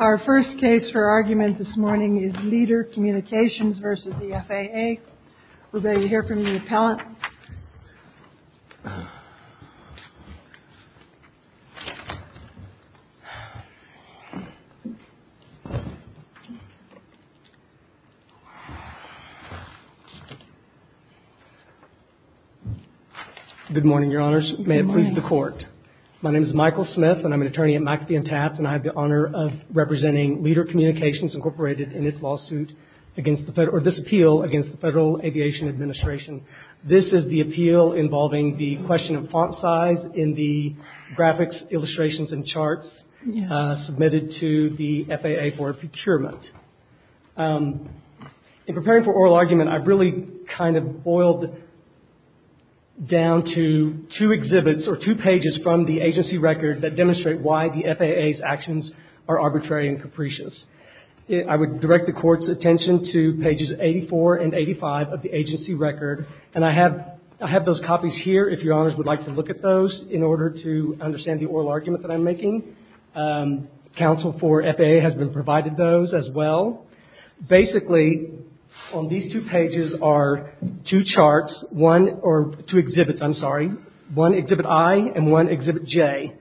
Our first case for argument this morning is Leader Communications v. the FAA. We'll let you hear from the appellant. Good morning, your honors. May it please the court. My name is Michael Smith and I'm an attorney at McAfee and Taft, and I have the honor of representing Leader Communications, Incorporated, in this appeal against the Federal Aviation Administration. This is the appeal involving the question of font size in the graphics, illustrations, and charts submitted to the FAA for procurement. In preparing for oral argument, I've really kind of boiled down to two exhibits or two pages from the agency record that demonstrate why the FAA's actions are arbitrary and capricious. I would direct the court's attention to pages 84 and 85 of the agency record, and I have those copies here if your honors would like to look at those in order to understand the oral argument that I'm making. Counsel for FAA has been provided those as well. Basically, on these two pages are two exhibits, one exhibit I and one exhibit J.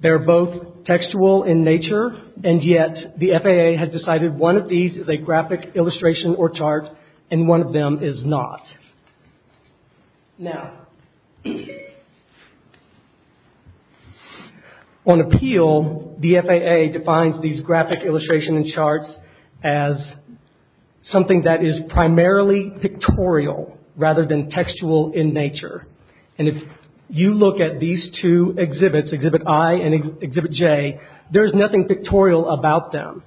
They're both textual in nature, and yet the FAA has decided one of these is a graphic illustration or chart and one of them is not. Now, on appeal, the FAA defines these graphic illustrations and charts as something that is primarily pictorial rather than textual in nature. And if you look at these two exhibits, exhibit I and exhibit J, there is nothing pictorial about them.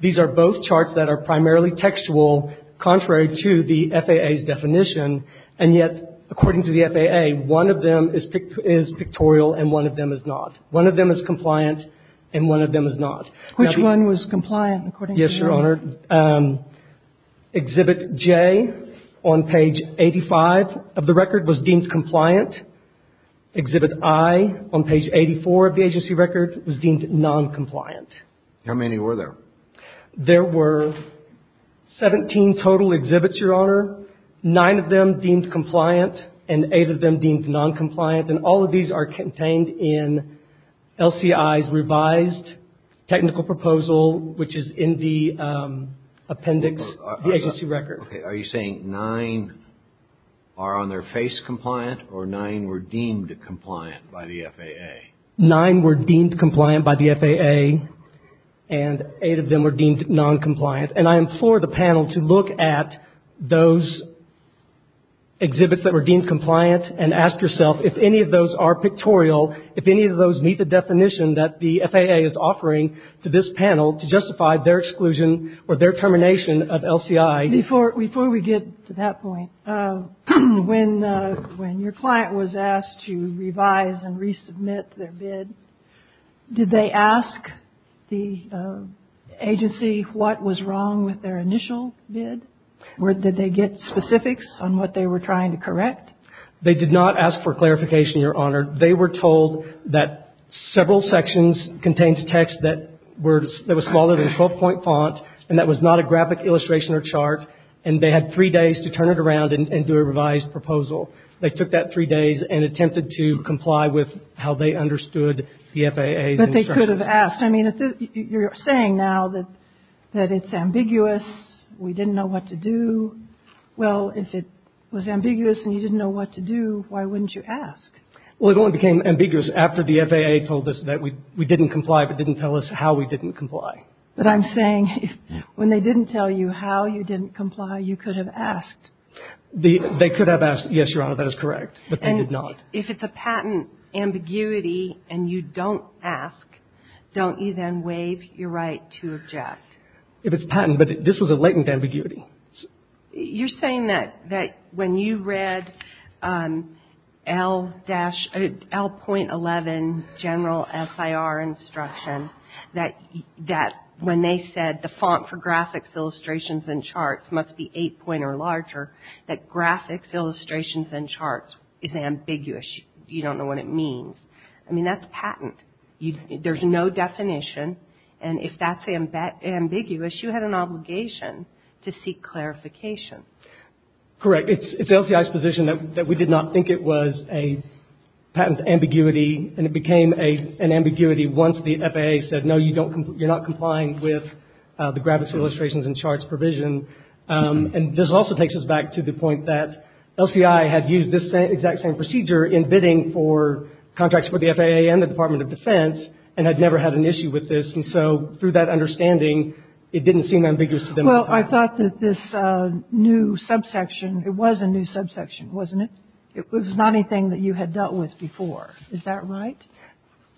These are both charts that are primarily textual, contrary to the FAA's definition, and yet, according to the FAA, one of them is pictorial and one of them is not. One of them is compliant and one of them is not. Which one was compliant, according to your honor? Exhibit J on page 85 of the record was deemed compliant. Exhibit I on page 84 of the agency record was deemed noncompliant. How many were there? There were 17 total exhibits, your honor. Nine of them deemed compliant and eight of them deemed noncompliant. And all of these are contained in LCI's revised technical proposal, which is in the appendix of the agency record. Are you saying nine are on their face compliant or nine were deemed compliant by the FAA? Nine were deemed compliant by the FAA and eight of them were deemed noncompliant. And I implore the panel to look at those exhibits that were deemed compliant and ask yourself if any of those are pictorial, if any of those meet the definition that the FAA is offering to this panel to justify their exclusion or their termination of LCI. Before we get to that point, when your client was asked to revise and resubmit their bid, did they ask the agency what was wrong with their initial bid? Did they get specifics on what they were trying to correct? They did not ask for clarification, your honor. They were told that several sections contained text that was smaller than 12 point font and that was not a graphic illustration or chart and they had three days to turn it around and do a revised proposal. They took that three days and attempted to comply with how they understood the FAA's instructions. But they could have asked. I mean, you're saying now that it's ambiguous, we didn't know what to do. Well, if it was ambiguous and you didn't know what to do, why wouldn't you ask? Well, it only became ambiguous after the FAA told us that we didn't comply but didn't tell us how we didn't comply. But I'm saying when they didn't tell you how you didn't comply, you could have asked. They could have asked, yes, your honor, that is correct, but they did not. And if it's a patent ambiguity and you don't ask, don't you then waive your right to object? If it's patent, but this was a latent ambiguity. You're saying that when you read L.11 general SIR instruction that when they said the font for graphics, illustrations, and charts must be 8 point or larger, that graphics, illustrations, and charts is ambiguous. You don't know what it means. I mean, that's patent. There's no definition, and if that's ambiguous, you had an obligation to seek clarification. Correct. It's LCI's position that we did not think it was a patent ambiguity, and it became an ambiguity once the FAA said, no, you're not complying with the graphics, illustrations, and charts provision. And this also takes us back to the point that LCI had used this exact same procedure in bidding for contracts for the FAA and the Department of Defense and had never had an issue with this. And so through that understanding, it didn't seem ambiguous to them. Well, I thought that this new subsection, it was a new subsection, wasn't it? It was not anything that you had dealt with before. Is that right?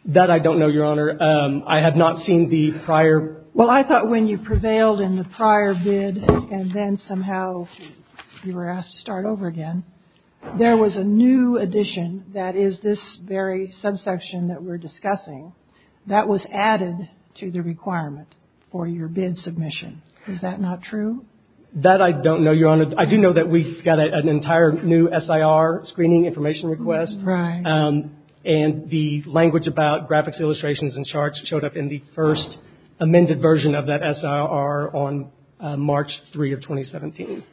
That I don't know, your honor. I have not seen the prior. Well, I thought when you prevailed in the prior bid and then somehow you were asked to start over again, there was a new addition that is this very subsection that we're discussing that was added to the requirement for your bid submission. Is that not true? That I don't know, your honor. I do know that we've got an entire new SIR screening information request. Right. And the language about graphics, illustrations, and charts showed up in the first amended version of that SIR on March 3 of 2017.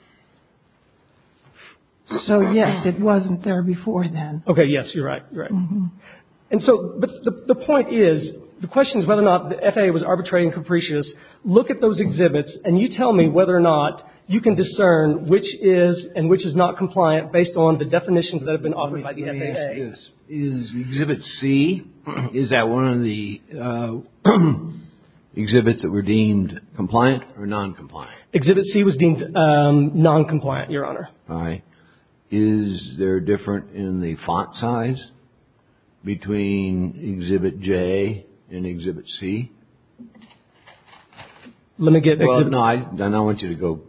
So, yes, it wasn't there before then. Okay, yes, you're right. You're right. And so the point is, the question is whether or not the FAA was arbitrary and capricious. Look at those exhibits and you tell me whether or not you can discern which is and which is not compliant based on the definitions that have been offered by the FAA. Is Exhibit C, is that one of the exhibits that were deemed compliant or noncompliant? Exhibit C was deemed noncompliant, your honor. All right. Is there a difference in the font size between Exhibit J and Exhibit C? Well, no, I don't want you to go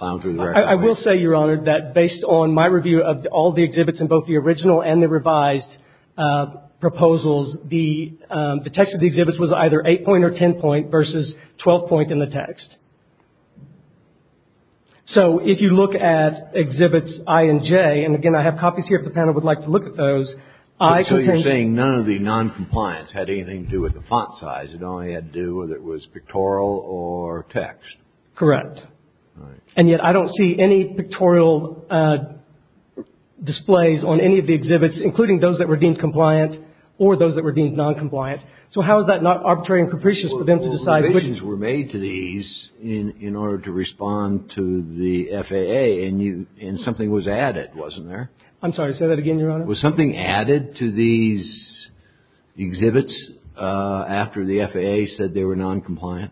down through the record. I will say, your honor, that based on my review of all the exhibits in both the original and the revised proposals, the text of the exhibits was either 8 point or 10 point versus 12 point in the text. So, if you look at Exhibits I and J, and again, I have copies here if the panel would like to look at those. So, you're saying none of the noncompliance had anything to do with the font size. It only had to do whether it was pictorial or text. Correct. All right. And yet I don't see any pictorial displays on any of the exhibits, including those that were deemed compliant or those that were deemed noncompliant. So, how is that not arbitrary and capricious for them to decide? Well, revisions were made to these in order to respond to the FAA, and something was added, wasn't there? I'm sorry, say that again, your honor. Was something added to these exhibits after the FAA said they were noncompliant?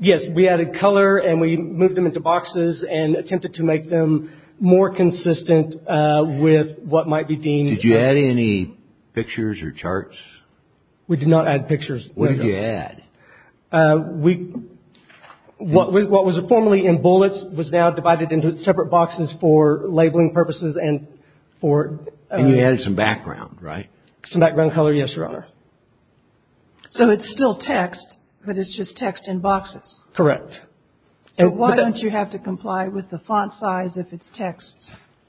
Yes, we added color and we moved them into boxes and attempted to make them more consistent with what might be deemed. Did you add any pictures or charts? We did not add pictures. What did you add? What was formerly in bullets was now divided into separate boxes for labeling purposes and for... And you added some background, right? Some background color, yes, your honor. So, it's still text, but it's just text in boxes? Correct. So, why don't you have to comply with the font size if it's text?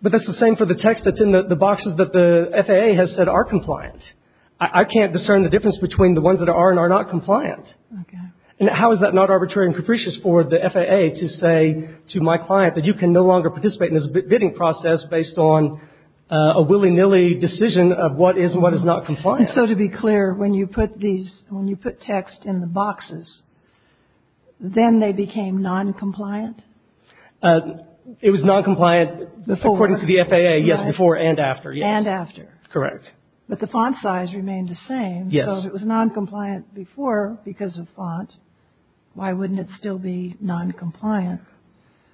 But that's the same for the text that's in the boxes that the FAA has said are compliant. I can't discern the difference between the ones that are and are not compliant. Okay. And how is that not arbitrary and capricious for the FAA to say to my client that you can no longer participate in this bidding process based on a willy-nilly decision of what is and what is not compliant? So, to be clear, when you put text in the boxes, then they became noncompliant? It was noncompliant according to the FAA, yes, before and after, yes. And after. Correct. But the font size remained the same. Yes. So, if it was noncompliant before because of font, why wouldn't it still be noncompliant?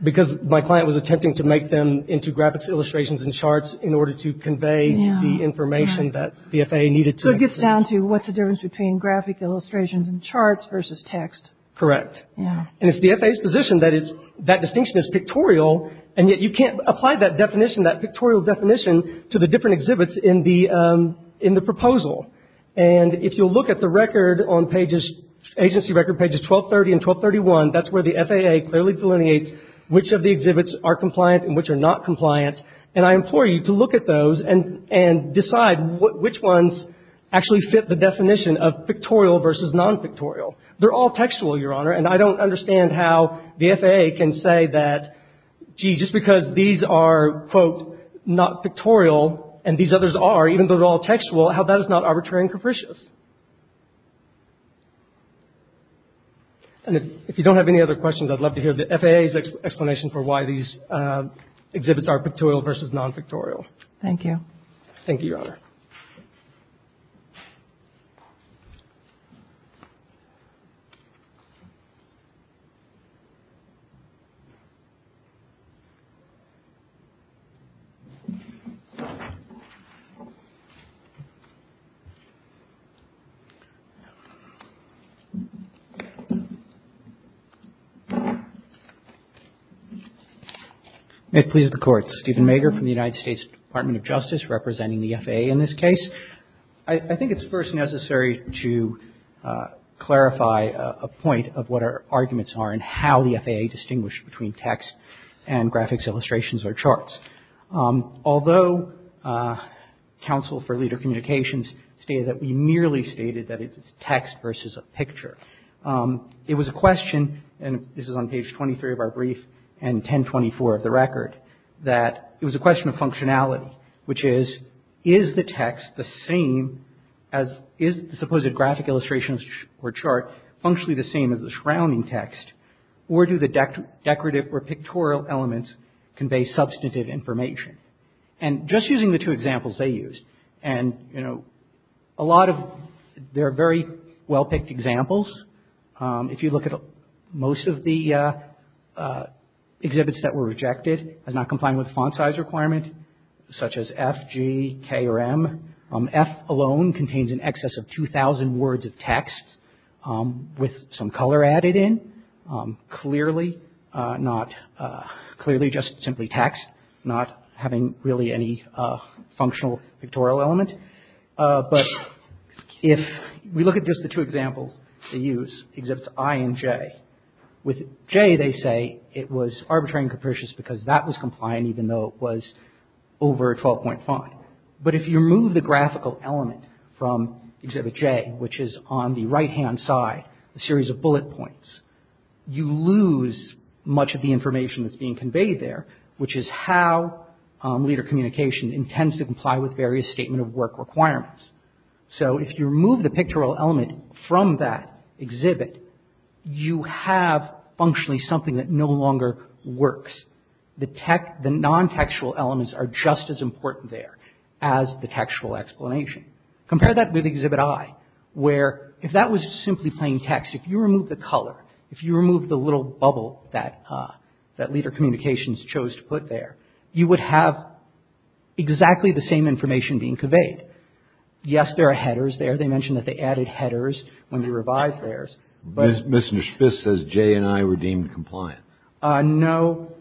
Because my client was attempting to make them into graphics, illustrations, and charts in order to convey the information that the FAA needed to. So, it gets down to what's the difference between graphic illustrations and charts versus text. Correct. And it's the FAA's position that that distinction is pictorial, and yet you can't apply that definition, that pictorial definition, to the different exhibits in the proposal. And if you'll look at the record on pages, agency record pages 1230 and 1231, that's where the FAA clearly delineates which of the exhibits are compliant and which are not compliant, and I implore you to look at those and decide which ones actually fit the definition of pictorial versus nonpictorial. They're all textual, Your Honor, and I don't understand how the FAA can say that, gee, just because these are, quote, not pictorial and these others are, even though they're all textual, how that is not arbitrary and capricious. And if you don't have any other questions, I'd love to hear the FAA's explanation for why these exhibits are pictorial versus nonpictorial. Thank you. Thank you, Your Honor. May it please the Court. Steven Mager from the United States Department of Justice representing the FAA in this case. I think it's first necessary to clarify a point of what our arguments are and how the FAA distinguished between text and graphics illustrations or charts. Although Council for Leader Communications stated that we merely stated that it's text versus a picture, it was a question, and this is on page 23 of our brief and 1024 of the record, that it was a question of functionality, which is, is the text the same as is the supposed graphic illustrations or chart functionally the same as the surrounding text, or do the decorative or pictorial elements convey substantive information? And just using the two examples they used, and, you know, a lot of, they're very well-picked examples. If you look at most of the exhibits that were rejected as not complying with font size requirement, such as F, G, K, or M, F alone contains in excess of 2,000 words of text with some color added in, clearly not, clearly just simply text, not having really any functional pictorial element. But if we look at just the two examples they use, exhibits I and J, with J they say it was arbitrary and capricious because that was compliant, even though it was over a 12-point font. But if you remove the graphical element from exhibit J, which is on the right-hand side, a series of bullet points, you lose much of the information that's being conveyed there, which is how leader communication intends to comply with various statement of work requirements. So if you remove the pictorial element from that exhibit, you have functionally something that no longer works. The non-textual elements are just as important there as the textual explanation. Compare that with exhibit I, where if that was simply plain text, if you remove the color, if you remove the little bubble that leader communications chose to put there, you would have exactly the same information being conveyed. Yes, there are headers there. They mentioned that they added headers when they revised theirs. Mr. Schvitz says J and I were deemed compliant. No.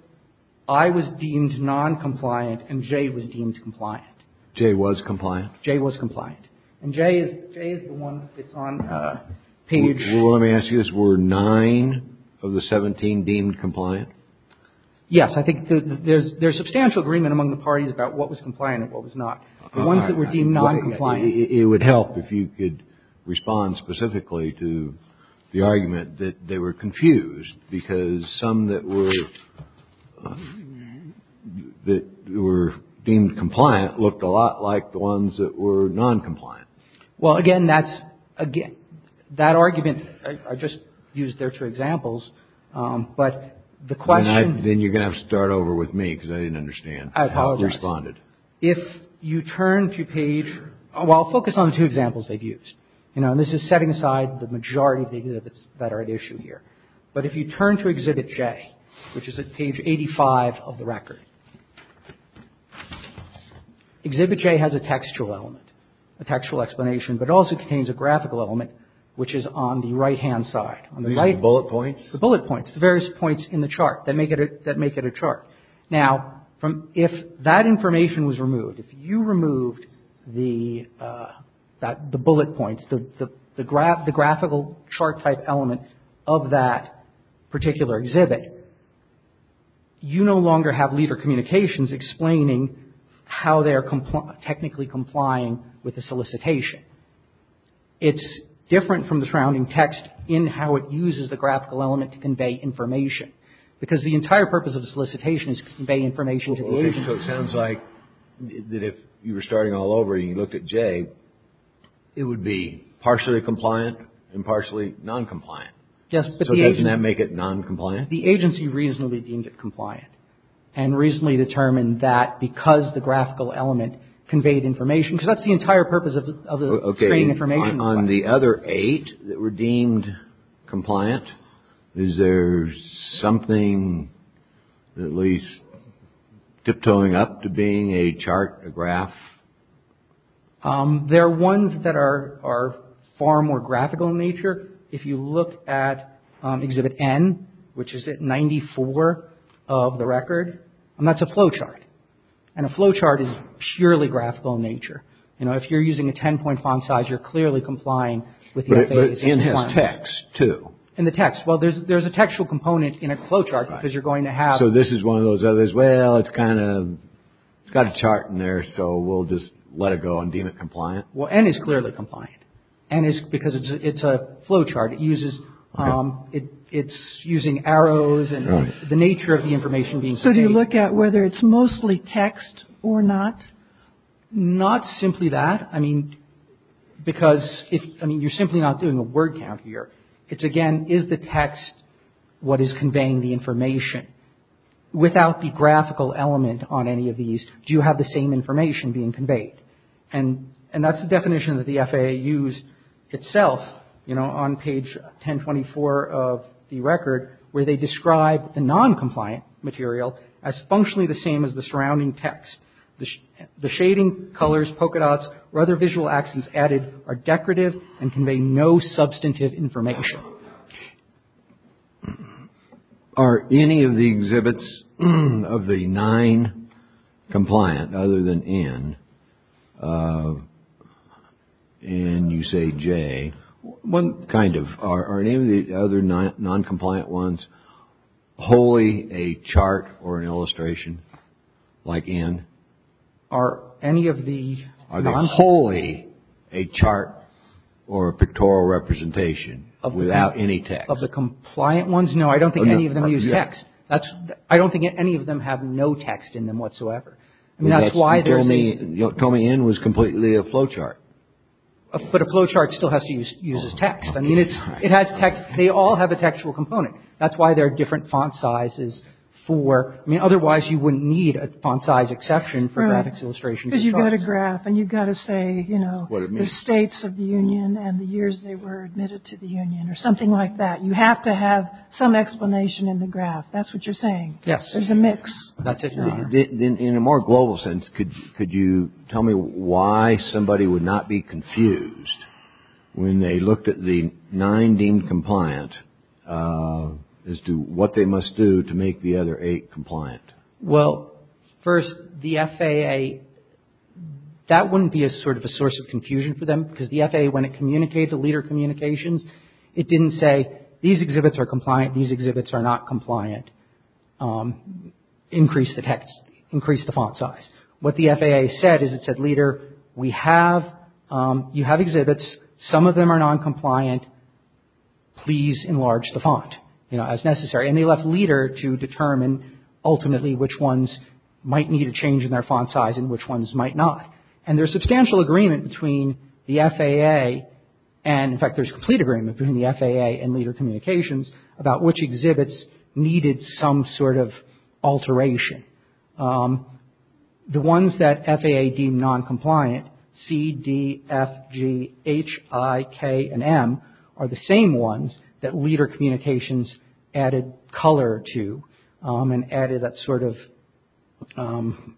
I was deemed noncompliant and J was deemed compliant. J was compliant? J was compliant. And J is the one that's on the page. Well, let me ask you this. Were nine of the 17 deemed compliant? Yes. I think there's substantial agreement among the parties about what was compliant and what was not. The ones that were deemed noncompliant. It would help if you could respond specifically to the argument that they were confused, because some that were deemed compliant looked a lot like the ones that were noncompliant. Well, again, that argument, I just used there two examples, but the question. Then you're going to have to start over with me, because I didn't understand how you responded. I apologize. Well, focus on the two examples they've used. This is setting aside the majority of the exhibits that are at issue here. But if you turn to Exhibit J, which is at page 85 of the record, Exhibit J has a textual element, a textual explanation, but it also contains a graphical element, which is on the right-hand side. The bullet points? The bullet points. The various points in the chart that make it a chart. Now, if that information was removed, if you removed the bullet points, the graphical chart-type element of that particular exhibit, you no longer have leader communications explaining how they are technically complying with the solicitation. It's different from the surrounding text in how it uses the graphical element to convey information, because the entire purpose of the solicitation is to convey information to the agency. Okay. So it sounds like that if you were starting all over and you looked at J, it would be partially compliant and partially noncompliant. Yes. So doesn't that make it noncompliant? The agency reasonably deemed it compliant and reasonably determined that because the graphical element conveyed information, because that's the entire purpose of the screen information. On the other eight that were deemed compliant, is there something at least tiptoeing up to being a chart, a graph? There are ones that are far more graphical in nature. If you look at Exhibit N, which is at 94 of the record, that's a flowchart. And a flowchart is purely graphical in nature. You know, if you're using a 10-point font size, you're clearly complying with the agency's requirements. But it's in the text, too. In the text. Well, there's a textual component in a flowchart, because you're going to have... So this is one of those others, well, it's kind of, it's got a chart in there, so we'll just let it go and deem it compliant. Well, N is clearly compliant. N is because it's a flowchart. It uses, it's using arrows and the nature of the information being conveyed. So do you look at whether it's mostly text or not? Not simply that. I mean, because if, I mean, you're simply not doing a word count here. It's, again, is the text what is conveying the information? Without the graphical element on any of these, do you have the same information being conveyed? And that's the definition that the FAA used itself, you know, on page 1024 of the record, where they describe the non-compliant material as functionally the same as the surrounding text. The shading, colors, polka dots, or other visual accents added are decorative and convey no substantive information. Are any of the exhibits of the nine compliant, other than N, and you say J, Kind of. Are any of the other non-compliant ones wholly a chart or an illustration like N? Are any of the… Are they wholly a chart or a pictorial representation without any text? Of the compliant ones, no. I don't think any of them use text. I don't think any of them have no text in them whatsoever. I mean, that's why there's… You told me N was completely a flowchart. But a flowchart still has to use text. I mean, it has text. They all have a textual component. That's why there are different font sizes for… I mean, otherwise you wouldn't need a font size exception for graphics, illustrations, and charts. Because you've got a graph, and you've got to say, you know, the states of the union and the years they were admitted to the union, or something like that. You have to have some explanation in the graph. That's what you're saying. Yes. There's a mix. That's it. In a more global sense, could you tell me why somebody would not be confused when they looked at the nine deemed compliant as to what they must do to make the other eight compliant? Well, first, the FAA, that wouldn't be a sort of a source of confusion for them, because the FAA, when it communicated the leader communications, it didn't say, these exhibits are compliant, these exhibits are not compliant. Increase the text. Increase the font size. What the FAA said is it said, leader, we have… you have exhibits. Some of them are noncompliant. Please enlarge the font, you know, as necessary. And they left leader to determine ultimately which ones might need a change in their font size and which ones might not. And there's substantial agreement between the FAA, and, in fact, there's complete agreement between the FAA and leader communications about which exhibits needed some sort of alteration. The ones that FAA deemed noncompliant, C, D, F, G, H, I, K, and M, are the same ones that leader communications added color to and added that sort of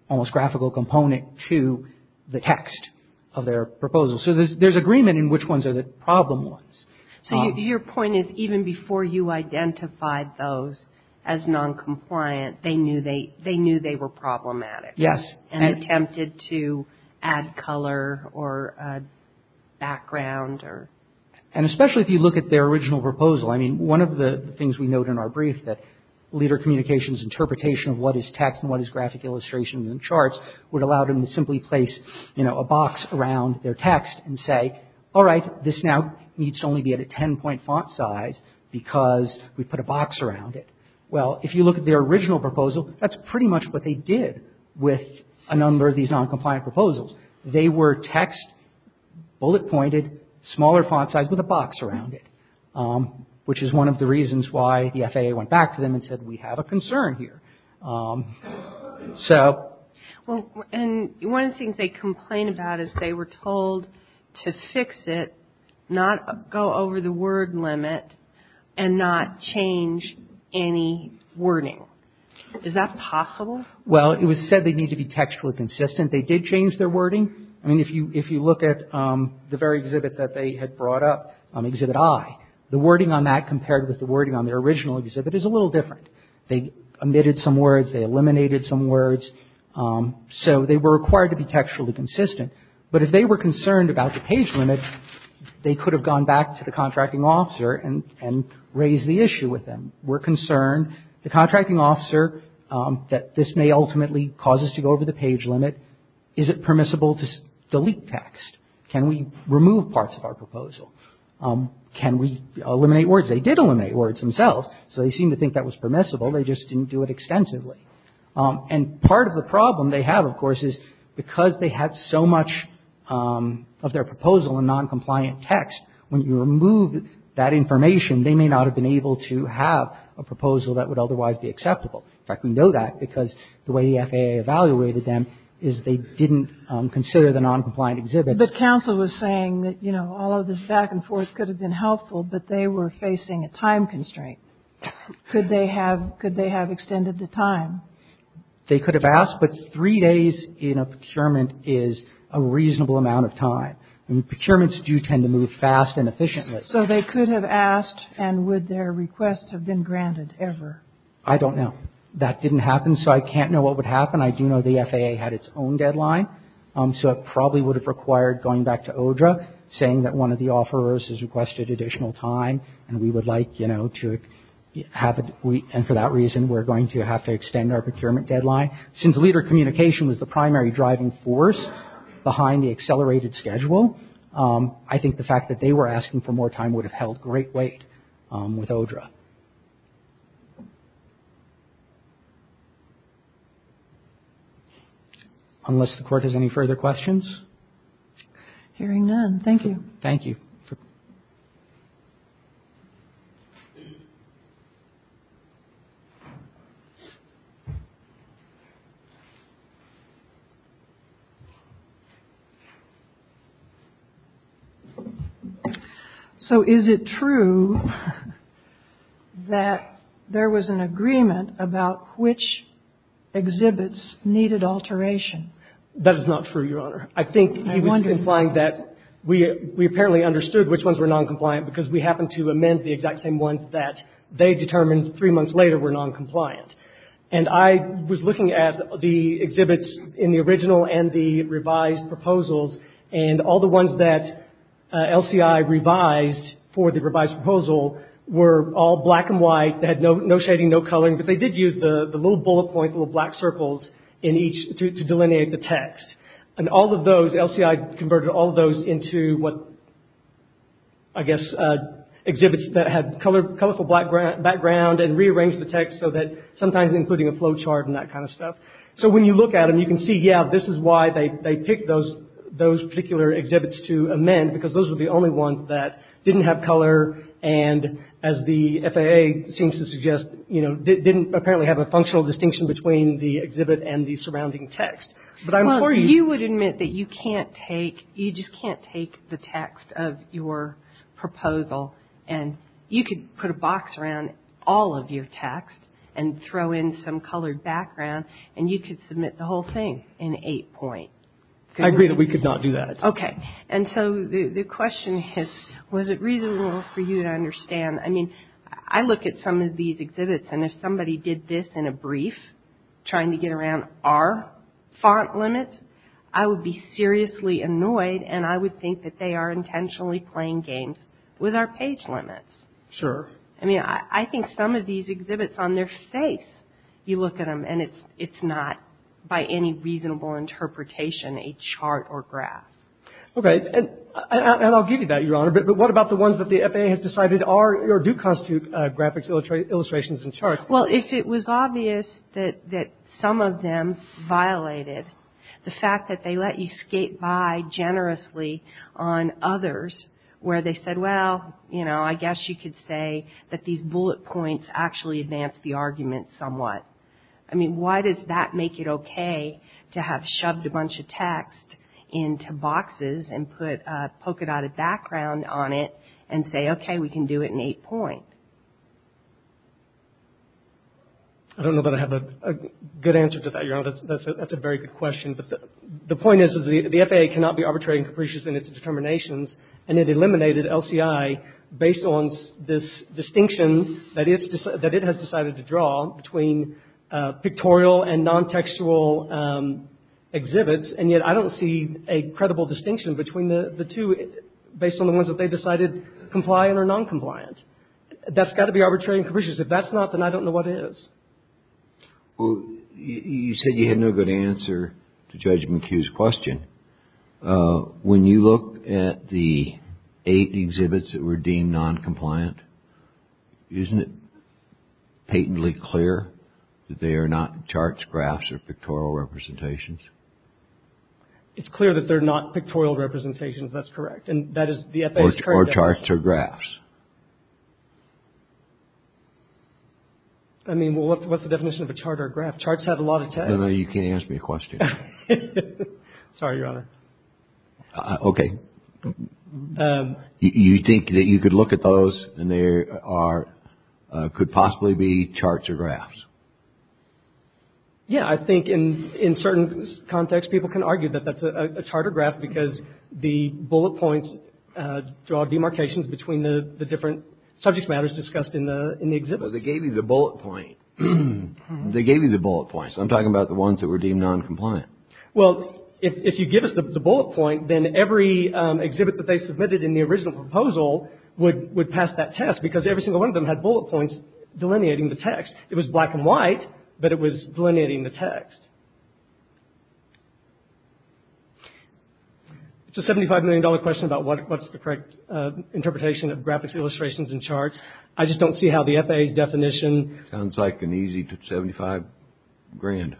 almost graphical component to the text of their proposal. So there's agreement in which ones are the problem ones. So your point is, even before you identified those as noncompliant, they knew they were problematic. Yes. And attempted to add color or background or… And especially if you look at their original proposal. I mean, one of the things we note in our brief, that leader communications' interpretation of what is text and what is graphic illustration in the charts would allow them to simply place a box around their text and say, all right, this now needs to only be at a 10-point font size because we put a box around it. Well, if you look at their original proposal, that's pretty much what they did with a number of these noncompliant proposals. They were text, bullet-pointed, smaller font size with a box around it, which is one of the reasons why the FAA went back to them and said we have a concern here. So… And one of the things they complain about is they were told to fix it, not go over the word limit, and not change any wording. Is that possible? Well, it was said they needed to be textually consistent. They did change their wording. I mean, if you look at the very exhibit that they had brought up, Exhibit I, the wording on that compared with the wording on their original exhibit is a little different. They omitted some words. They eliminated some words. So they were required to be textually consistent. But if they were concerned about the page limit, they could have gone back to the contracting officer and raised the issue with them. We're concerned, the contracting officer, that this may ultimately cause us to go over the page limit. Is it permissible to delete text? Can we remove parts of our proposal? Can we eliminate words? They did eliminate words themselves, so they seemed to think that was permissible. They just didn't do it extensively. And part of the problem they have, of course, is because they had so much of their proposal in noncompliant text, when you remove that information, they may not have been able to have a proposal that would otherwise be acceptable. In fact, we know that because the way the FAA evaluated them is they didn't consider the noncompliant exhibit. But counsel was saying that, you know, all of this back and forth could have been helpful, but they were facing a time constraint. Could they have extended the time? They could have asked, but three days in a procurement is a reasonable amount of time. Procurements do tend to move fast and efficiently. So they could have asked, and would their request have been granted ever? I don't know. That didn't happen, so I can't know what would happen. I do know the FAA had its own deadline, so it probably would have required going back to ODRA, saying that one of the offerors has requested additional time, and we would like, you know, to have a week, and for that reason we're going to have to extend our procurement deadline. Since leader communication was the primary driving force behind the accelerated schedule, I think the fact that they were asking for more time would have held great weight with ODRA. Unless the Court has any further questions. Hearing none, thank you. Thank you. So is it true that there was an agreement about which exhibits needed alteration? I think he was implying that we apparently understood which ones were noncompliant because we happened to amend the exact same ones that they determined three months later were noncompliant. And I was looking at the exhibits in the original and the revised proposals, and all the ones that LCI revised for the revised proposal were all black and white. They had no shading, no coloring, but they did use the little bullet points, little black circles in each to delineate the text. And all of those, LCI converted all of those into what, I guess, exhibits that had colorful background and rearranged the text so that sometimes including a flow chart and that kind of stuff. So when you look at them, you can see, yeah, this is why they picked those particular exhibits to amend, because those were the only ones that didn't have color and, as the FAA seems to suggest, you know, didn't apparently have a functional distinction between the exhibit and the surrounding text. Well, you would admit that you can't take, you just can't take the text of your proposal, and you could put a box around all of your text and throw in some colored background, and you could submit the whole thing in eight point. I agree that we could not do that. Okay. And so the question is, was it reasonable for you to understand, I mean, I look at some of these exhibits, and if somebody did this in a brief trying to get around our font limits, I would be seriously annoyed, and I would think that they are intentionally playing games with our page limits. Sure. I mean, I think some of these exhibits, on their face, you look at them, and it's not, by any reasonable interpretation, a chart or graph. Okay. And I'll give you that, Your Honor, but what about the ones that the FAA has decided are, or do constitute graphics, illustrations, and charts? Well, if it was obvious that some of them violated the fact that they let you skate by generously on others where they said, well, you know, I guess you could say that these bullet points actually advance the argument somewhat. I mean, why does that make it okay to have shoved a bunch of text into boxes and put a polka-dotted background on it and say, okay, we can do it in eight point? I don't know that I have a good answer to that, Your Honor. That's a very good question, but the point is that the FAA cannot be arbitrary and capricious in its determinations, and it eliminated LCI based on this distinction that it has decided to draw between pictorial and non-textual exhibits, and yet I don't see a credible distinction between the two based on the ones that they decided compliant or non-compliant. That's got to be arbitrary and capricious. If that's not, then I don't know what is. Well, you said you had no good answer to Judge McHugh's question. When you look at the eight exhibits that were deemed non-compliant, isn't it patently clear that they are not charts, graphs, or pictorial representations? It's clear that they're not pictorial representations. That's correct. Or charts or graphs. I mean, what's the definition of a chart or a graph? Charts have a lot of text. No, no, you can't ask me a question. Sorry, Your Honor. Okay. You think that you could look at those and they could possibly be charts or graphs? Yeah, I think in certain contexts people can argue that that's a chart or graph because the bullet points draw demarcations between the different subject matters discussed in the exhibits. But they gave you the bullet points. They gave you the bullet points. I'm talking about the ones that were deemed non-compliant. Well, if you give us the bullet point, then every exhibit that they submitted in the original proposal would pass that test because every single one of them had bullet points delineating the text. It was black and white, but it was delineating the text. It's a $75 million question about what's the correct interpretation of graphics, illustrations, and charts. I just don't see how the FAA's definition. Sounds like an easy 75 grand.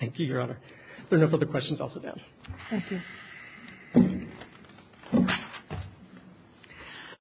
Thank you, Your Honor. If there are no further questions, I'll sit down. Thank you.